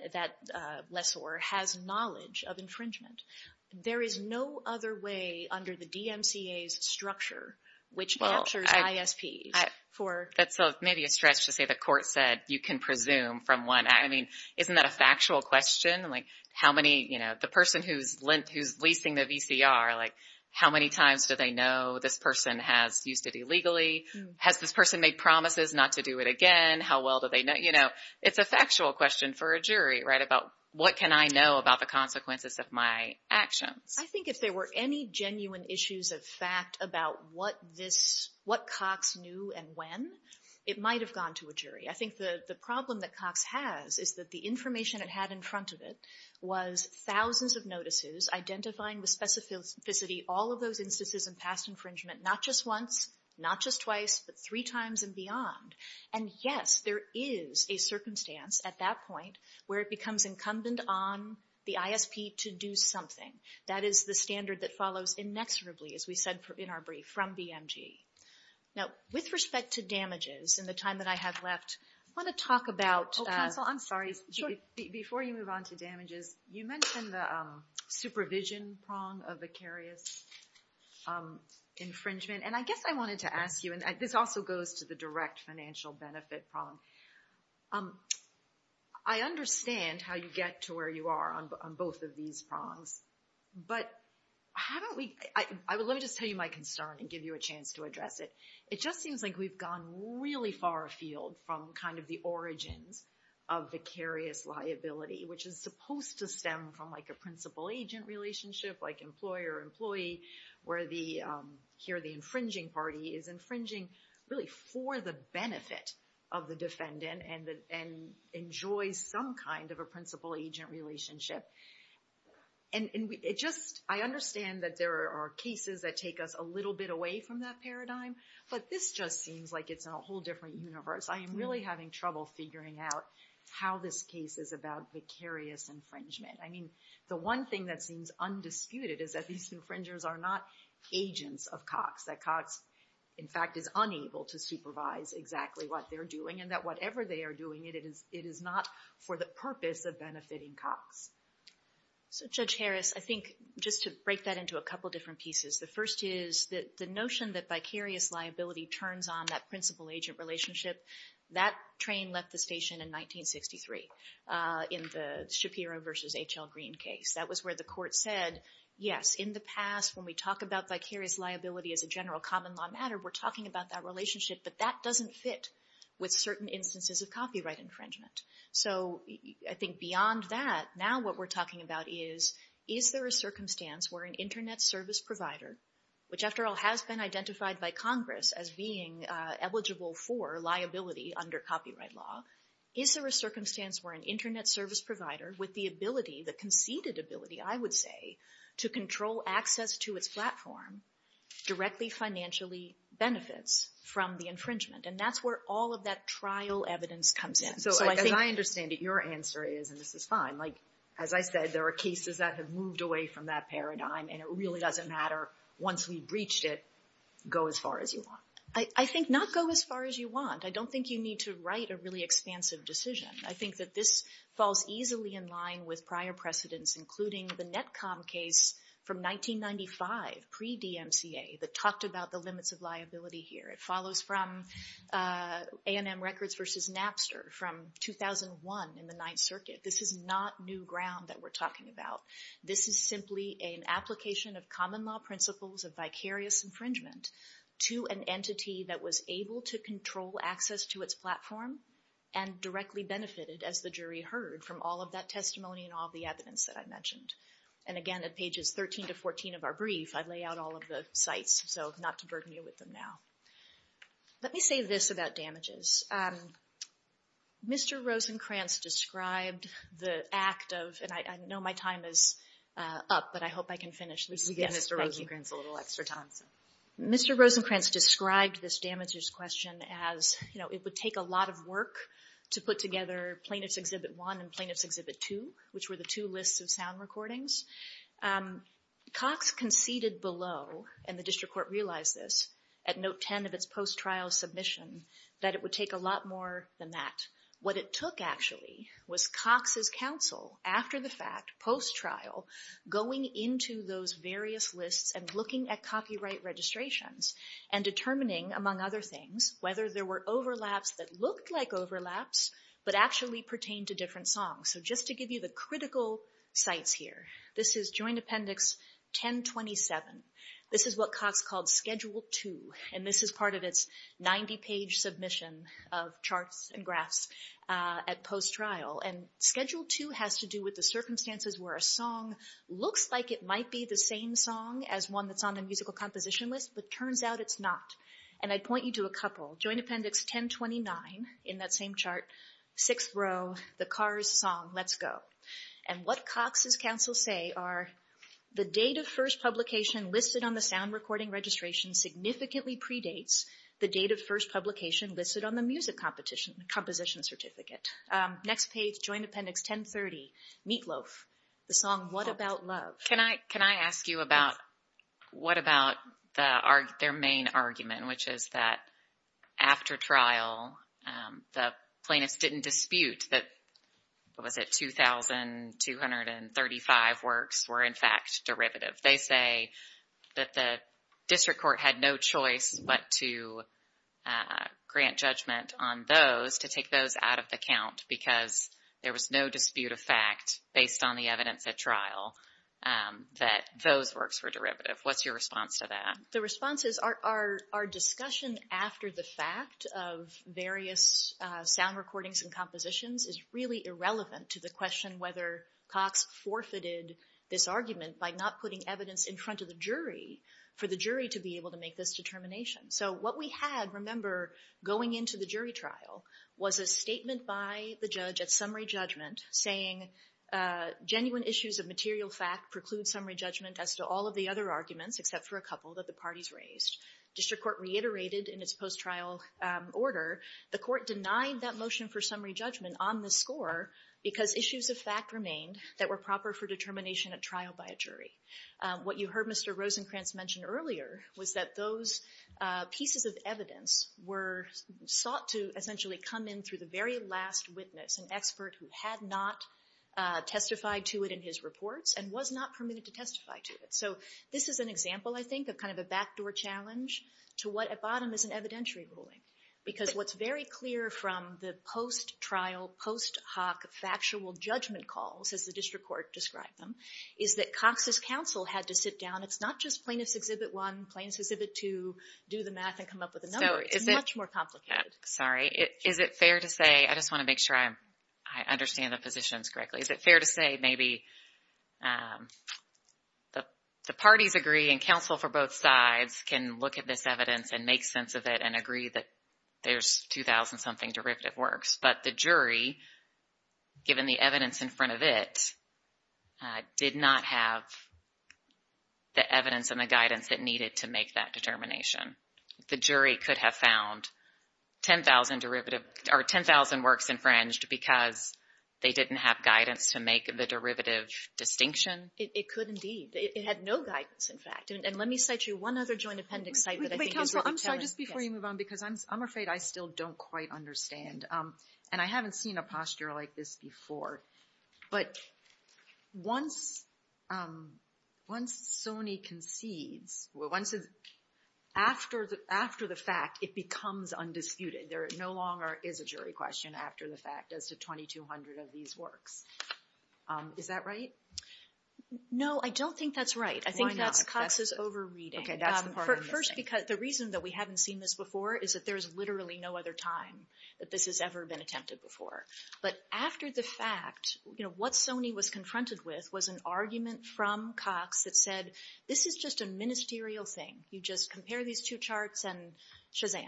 lessor, has knowledge of infringement. There is no other way under the DMCA's structure which captures ISPs. That's maybe a stretch to say the court said you can presume from one. I mean, isn't that a factual question? Like how many, you know, the person who's leasing the VCR, like how many times do they know this person has used it illegally? Has this person made promises not to do it again? How well do they know? You know, it's a factual question for a jury, right, about what can I know about the consequences of my actions. I think if there were any genuine issues of fact about what Cox knew and when, it might have gone to a jury. I think the problem that Cox has is that the information it had in front of it was thousands of notices identifying with specificity all of those instances of past infringement, not just once, not just twice, but three times and beyond. And, yes, there is a circumstance at that point where it becomes incumbent on the ISP to do something. That is the standard that follows inexorably, as we said in our brief, from BMG. Now, with respect to damages and the time that I have left, I want to talk about... Oh, counsel, I'm sorry. Before you move on to damages, you mentioned the supervision prong of vicarious infringement, and I guess I wanted to ask you, and this also goes to the direct financial benefit prong. I understand how you get to where you are on both of these prongs, but let me just tell you my concern and give you a chance to address it. It just seems like we've gone really far afield from kind of the origins of vicarious liability, which is supposed to stem from like a principal-agent relationship, like employer-employee, where here the infringing party is infringing really for the benefit of the defendant and enjoys some kind of a principal-agent relationship. And I understand that there are cases that take us a little bit away from that paradigm, but this just seems like it's a whole different universe. I am really having trouble figuring out how this case is about vicarious infringement. I mean, the one thing that seems undisputed is that these infringers are not agents of Cox, that Cox, in fact, is unable to supervise exactly what they're doing and that whatever they are doing, it is not for the purpose of benefiting Cox. So, Judge Harris, I think just to break that into a couple different pieces, the first is the notion that vicarious liability turns on that principal-agent relationship. That train left the station in 1963 in the Shapiro v. H.L. Green case. That was where the court said, yes, in the past when we talk about vicarious liability as a general common law matter, we're talking about that relationship, but that doesn't fit with certain instances of copyright infringement. So I think beyond that, now what we're talking about is, is there a circumstance where an Internet service provider, which, after all, has been identified by Congress as being eligible for liability under copyright law, is there a circumstance where an Internet service provider with the ability, the conceded ability, I would say, to control access to its platform, directly financially benefits from the infringement? And that's where all of that trial evidence comes in. So as I understand it, your answer is, and this is fine, like, as I said, there are cases that have moved away from that paradigm, and it really doesn't matter. Once we've breached it, go as far as you want. I think not go as far as you want. I don't think you need to write a really expansive decision. I think that this falls easily in line with prior precedents, including the Netcom case from 1995, pre-DMCA, that talked about the limits of liability here. It follows from A&M Records v. Napster from 2001 in the Ninth Circuit. This is not new ground that we're talking about. This is simply an application of common law principles of vicarious infringement to an entity that was able to control access to its platform and directly benefited, as the jury heard, from all of that testimony and all of the evidence that I mentioned. And again, at pages 13 to 14 of our brief, I lay out all of the sites, so not to burden you with them now. Let me say this about damages. Mr. Rosencrantz described the act of, and I know my time is up, but I hope I can finish this. We give Mr. Rosencrantz a little extra time. Mr. Rosencrantz described this damages question as, you know, it would take a lot of work to put together Plaintiff's Exhibit 1 and Plaintiff's Exhibit 2, which were the two lists of sound recordings. Cox conceded below, and the District Court realized this, at Note 10 of its post-trial submission, that it would take a lot more than that. What it took, actually, was Cox's counsel, after the fact, post-trial, going into those various lists and looking at copyright registrations and determining, among other things, whether there were overlaps that looked like overlaps but actually pertained to different songs. So just to give you the critical sites here, this is Joint Appendix 1027. This is what Cox called Schedule 2. And this is part of its 90-page submission of charts and graphs at post-trial. And Schedule 2 has to do with the circumstances where a song looks like it might be the same song as one that's on the musical composition list, but turns out it's not. And I'd point you to a couple. Joint Appendix 1029, in that same chart, sixth row, the Cars song, Let's Go. And what Cox's counsel say are, the date of first publication listed on the sound recording registration significantly predates the date of first publication listed on the music composition certificate. Next page, Joint Appendix 1030, Meatloaf, the song What About Love. Can I ask you about what about their main argument, which is that after trial, the plaintiffs didn't dispute that 2,235 works were, in fact, derivative. They say that the district court had no choice but to grant judgment on those, to take those out of the count because there was no dispute of fact based on the evidence at trial that those works were derivative. What's your response to that? The response is our discussion after the fact of various sound recordings and compositions is really irrelevant to the question whether Cox forfeited this argument by not putting evidence in front of the jury for the jury to be able to make this determination. So what we had, remember, going into the jury trial was a statement by the judge at summary judgment saying genuine issues of material fact preclude summary judgment as to all of the other arguments except for a couple that the parties raised. District court reiterated in its post-trial order the court denied that motion for summary judgment on the score because issues of fact remained that were proper for determination at trial by a jury. What you heard Mr. Rosenkranz mention earlier was that those pieces of evidence were sought to essentially come in through the very last witness, an expert who had not testified to it in his reports and was not permitted to testify to it. So this is an example, I think, of kind of a backdoor challenge to what at bottom is an evidentiary ruling because what's very clear from the post-trial, post hoc factual judgment calls, as the district court described them, is that Cox's counsel had to sit down. It's not just plaintiff's exhibit one, plaintiff's exhibit two, do the math and come up with a number. It's much more complicated. Sorry. Is it fair to say, I just want to make sure I understand the positions correctly. Is it fair to say maybe the parties agree and counsel for both sides can look at this evidence and make sense of it and agree that there's 2,000-something derivative works, but the jury, given the evidence in front of it, did not have the evidence and the guidance that needed to make that determination. The jury could have found 10,000 works infringed because they didn't have guidance to make the derivative distinction. It could indeed. It had no guidance, in fact. And let me cite you one other joint appendix site that I think is worth telling us. I'm sorry, just before you move on, because I'm afraid I still don't quite understand. And I haven't seen a posture like this before. But once Sony concedes, after the fact, it becomes undisputed. There no longer is a jury question after the fact as to 2,200 of these works. Is that right? No, I don't think that's right. I think that's Cox's over-reading. Okay, that's the part I'm missing. First, because the reason that we haven't seen this before is that there is literally no other time that this has ever been attempted before. But after the fact, what Sony was confronted with was an argument from Cox that said, this is just a ministerial thing. You just compare these two charts and shazam.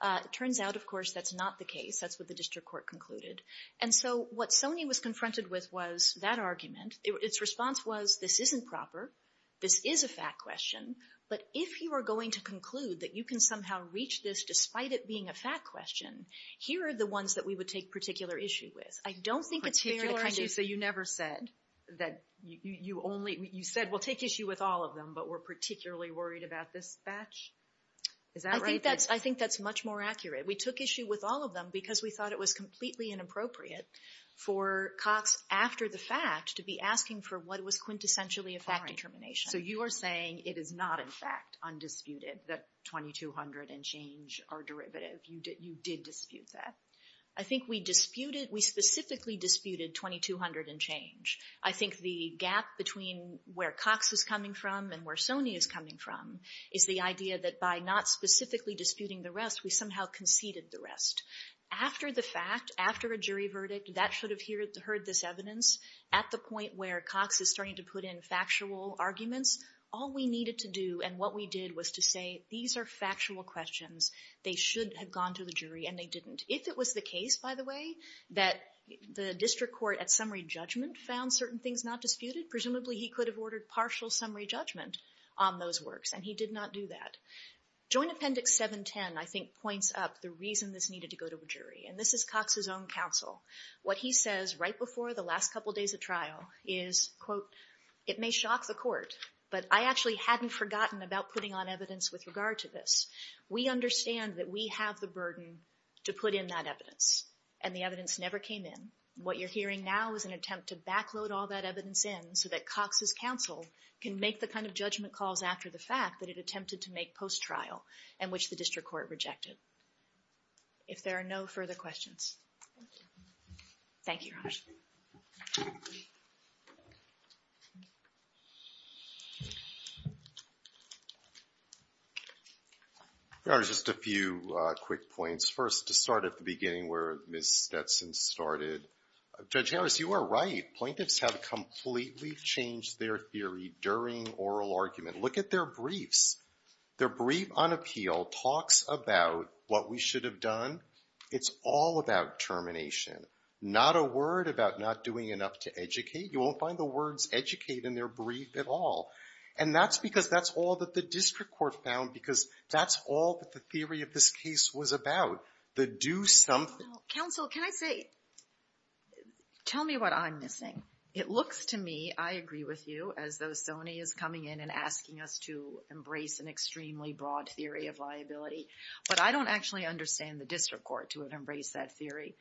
It turns out, of course, that's not the case. That's what the district court concluded. And so what Sony was confronted with was that argument. Its response was, this isn't proper. This is a fact question. But if you are going to conclude that you can somehow reach this despite it being a fact question, here are the ones that we would take particular issue with. I don't think it's fair to kind of... Particular issue, so you never said that you only, you said we'll take issue with all of them, but we're particularly worried about this batch? Is that right? I think that's much more accurate. We took issue with all of them because we thought it was completely inappropriate for Cox, after the fact, to be asking for what was quintessentially a fact determination. So you are saying it is not, in fact, undisputed that 2200 and change are derivative. You did dispute that. I think we disputed, we specifically disputed 2200 and change. I think the gap between where Cox is coming from and where Sony is coming from is the idea that by not specifically disputing the rest, we somehow conceded the rest. After the fact, after a jury verdict, that should have heard this evidence. At the point where Cox is starting to put in factual arguments, all we needed to do and what we did was to say these are factual questions. They should have gone to the jury and they didn't. If it was the case, by the way, that the district court at summary judgment found certain things not disputed, presumably he could have ordered partial summary judgment on those works, and he did not do that. Joint Appendix 710, I think, points up the reason this needed to go to a jury, and this is Cox's own counsel. What he says right before the last couple days of trial is, quote, it may shock the court, but I actually hadn't forgotten about putting on evidence with regard to this. We understand that we have the burden to put in that evidence, and the evidence never came in. What you're hearing now is an attempt to back load all that evidence in so that Cox's counsel can make the kind of judgment calls after the fact that it attempted to make post-trial, and which the district court rejected. If there are no further questions. Thank you, Your Honor. Your Honor, just a few quick points. First, to start at the beginning where Ms. Stetson started, Judge Harris, you are right. Plaintiffs have completely changed their theory during oral argument. Look at their briefs. Their brief on appeal talks about what we should have done. It's all about termination. Not a word about not doing enough to educate. You won't find the words educate in their brief at all. And that's because that's all that the district court found because that's all that the theory of this case was about, the do something. Counsel, can I say, tell me what I'm missing. It looks to me, I agree with you, as though Sony is coming in and asking us to embrace an extremely broad theory of liability. But I don't actually understand the district court to embrace that theory.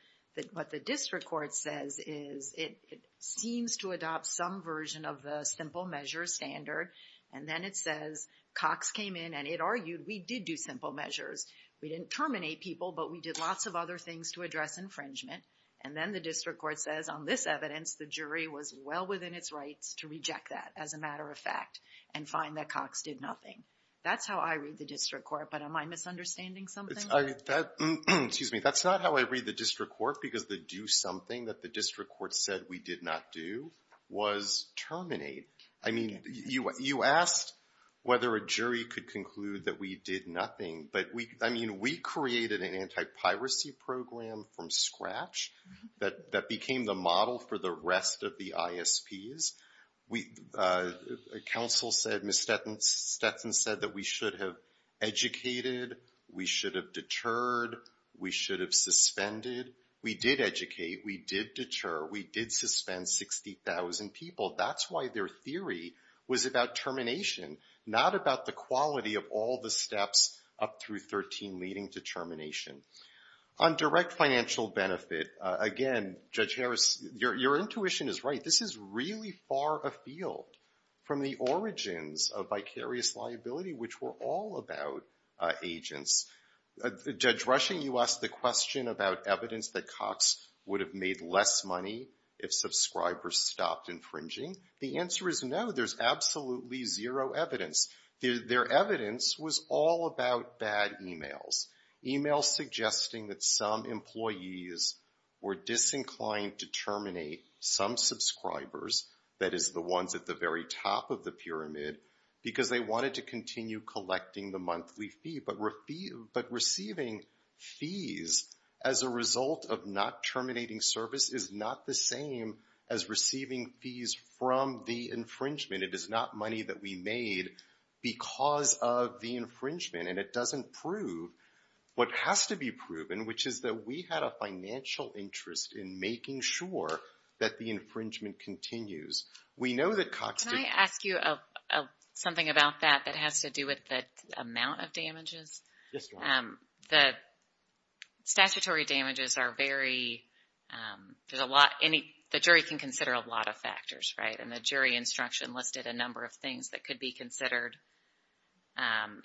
What the district court says is it seems to adopt some version of the simple measure standard. And then it says Cox came in and it argued we did do simple measures. We didn't terminate people, but we did lots of other things to address infringement. And then the district court says on this evidence the jury was well within its rights to reject that as a matter of fact and find that Cox did nothing. That's how I read the district court. But am I misunderstanding something? Excuse me. That's not how I read the district court because the do something that the district court said we did not do was terminate. I mean, you asked whether a jury could conclude that we did nothing. But, I mean, we created an anti-piracy program from scratch that became the model for the rest of the ISPs. Counsel said, Ms. Stetson said that we should have educated, we should have deterred, we should have suspended. We did educate, we did deter, we did suspend 60,000 people. That's why their theory was about termination, not about the quality of all the steps up through 13 leading to termination. On direct financial benefit, again, Judge Harris, your intuition is right. This is really far afield from the origins of vicarious liability, which were all about agents. Judge Rushing, you asked the question about evidence that Cox would have made less money if subscribers stopped infringing. The answer is no. There's absolutely zero evidence. Their evidence was all about bad e-mails, e-mails suggesting that some employees were disinclined to terminate some subscribers, that is the ones at the very top of the pyramid, because they wanted to continue collecting the monthly fee. But receiving fees as a result of not terminating service is not the same as receiving fees from the infringement. It is not money that we made because of the infringement. And it doesn't prove what has to be proven, which is that we had a financial interest in making sure that the infringement continues. We know that Cox... Can I ask you something about that that has to do with the amount of damages? Yes. The statutory damages are very, there's a lot, the jury can consider a lot of factors, right? And the jury instruction listed a number of things that could be considered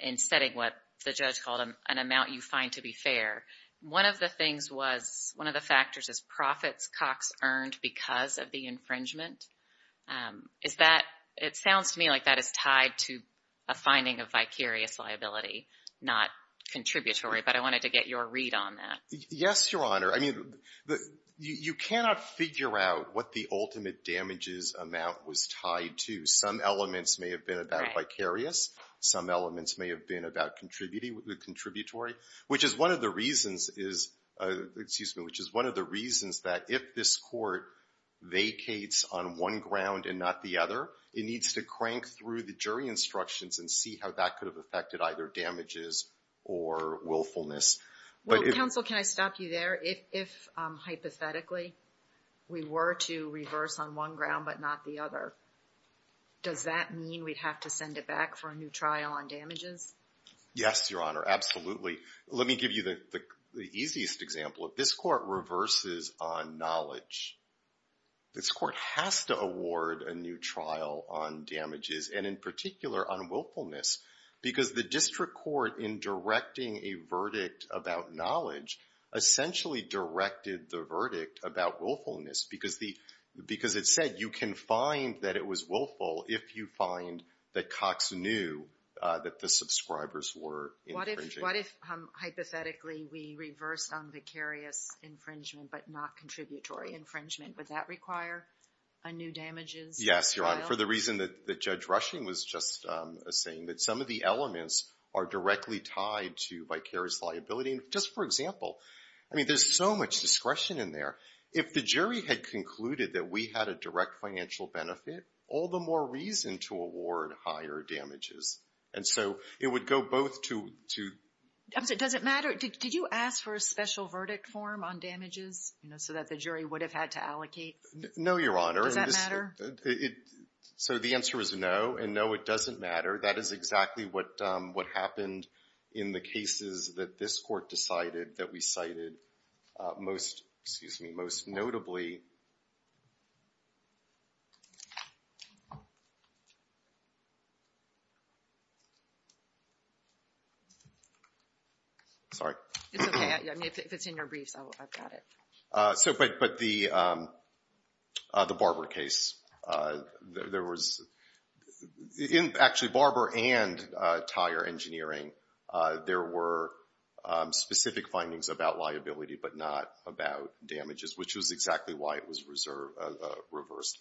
in setting what the judge called an amount you find to be fair. One of the things was, one of the factors is profits Cox earned because of the infringement. Is that, it sounds to me like that is tied to a finding of vicarious liability, not contributory. But I wanted to get your read on that. Yes, Your Honor. I mean, you cannot figure out what the ultimate damages amount was tied to. Some elements may have been about vicarious. Some elements may have been about contributory, which is one of the reasons is, excuse me, which is one of the reasons that if this court vacates on one ground and not the other, it needs to crank through the jury instructions and see how that could have affected either damages or willfulness. Well, counsel, can I stop you there? If, hypothetically, we were to reverse on one ground but not the other, does that mean we'd have to send it back for a new trial on damages? Yes, Your Honor, absolutely. Let me give you the easiest example. If this court reverses on knowledge, this court has to award a new trial on damages, and in particular on willfulness, because the district court, in directing a verdict about knowledge, essentially directed the verdict about willfulness because it said you can find that it was willful if you find that Cox knew that the subscribers were infringing. What if, hypothetically, we reverse on vicarious infringement but not contributory infringement? Would that require a new damages trial? For the reason that Judge Rushing was just saying, that some of the elements are directly tied to vicarious liability. Just for example, I mean, there's so much discretion in there. If the jury had concluded that we had a direct financial benefit, all the more reason to award higher damages. And so it would go both to — Does it matter? Did you ask for a special verdict form on damages so that the jury would have had to allocate? No, Your Honor. Does that matter? So the answer is no, and no, it doesn't matter. That is exactly what happened in the cases that this court decided that we cited. Most notably — Sorry. It's okay. If it's in your briefs, I've got it. But the Barber case, there was — Actually, Barber and Tire Engineering, there were specific findings about liability but not about damages, which was exactly why it was reversed.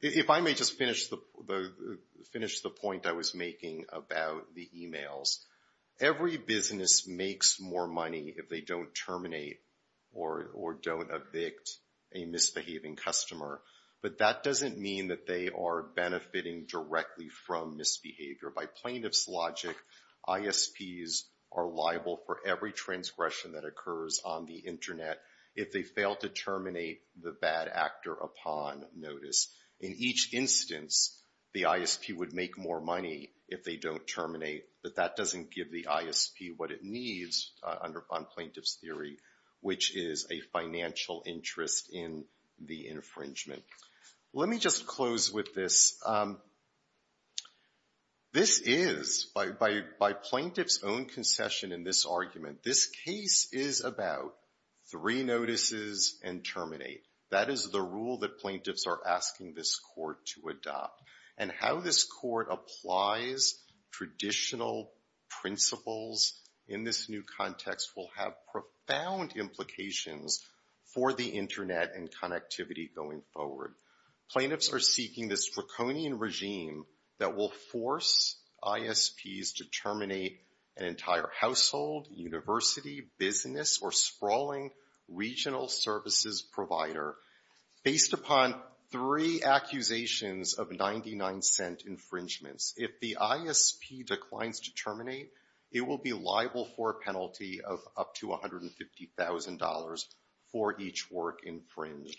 If I may just finish the point I was making about the emails. Every business makes more money if they don't terminate or don't evict a misbehaving customer. But that doesn't mean that they are benefiting directly from misbehavior. By plaintiff's logic, ISPs are liable for every transgression that occurs on the Internet if they fail to terminate the bad actor upon notice. In each instance, the ISP would make more money if they don't terminate. But that doesn't give the ISP what it needs on plaintiff's theory, which is a financial interest in the infringement. Let me just close with this. This is, by plaintiff's own concession in this argument, this case is about three notices and terminate. That is the rule that plaintiffs are asking this court to adopt. And how this court applies traditional principles in this new context will have profound implications for the Internet and connectivity going forward. Plaintiffs are seeking this draconian regime that will force ISPs to terminate an entire household, university, business, or sprawling regional services provider. Based upon three accusations of 99-cent infringements, if the ISP declines to terminate, it will be liable for a penalty of up to $150,000 for each work infringed.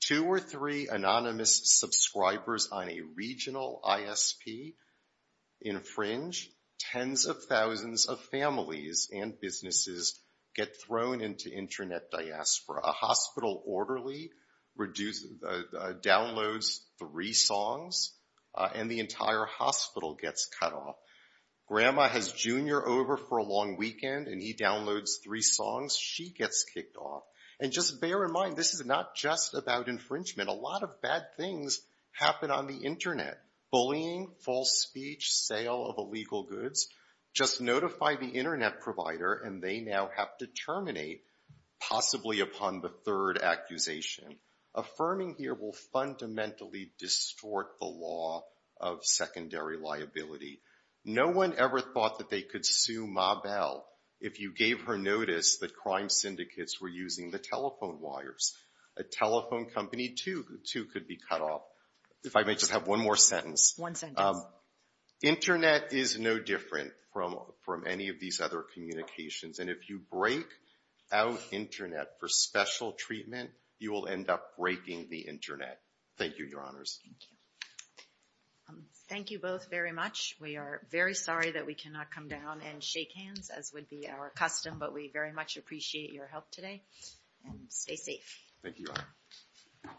Two or three anonymous subscribers on a regional ISP infringe, tens of thousands of families and businesses get thrown into Internet diaspora. A hospital orderly downloads three songs and the entire hospital gets cut off. Grandma has Junior over for a long weekend and he downloads three songs, she gets kicked off. And just bear in mind, this is not just about infringement. A lot of bad things happen on the Internet. Bullying, false speech, sale of illegal goods. Just notify the Internet provider and they now have to terminate, possibly upon the third accusation. Affirming here will fundamentally distort the law of secondary liability. No one ever thought that they could sue Ma Bell if you gave her notice that crime syndicates were using the telephone wires. A telephone company too could be cut off. If I may just have one more sentence. One sentence. Internet is no different from any of these other communications. And if you break out Internet for special treatment, you will end up breaking the Internet. Thank you, Your Honors. Thank you. Thank you both very much. We are very sorry that we cannot come down and shake hands, as would be our custom, but we very much appreciate your help today. And stay safe. Thank you, Your Honor.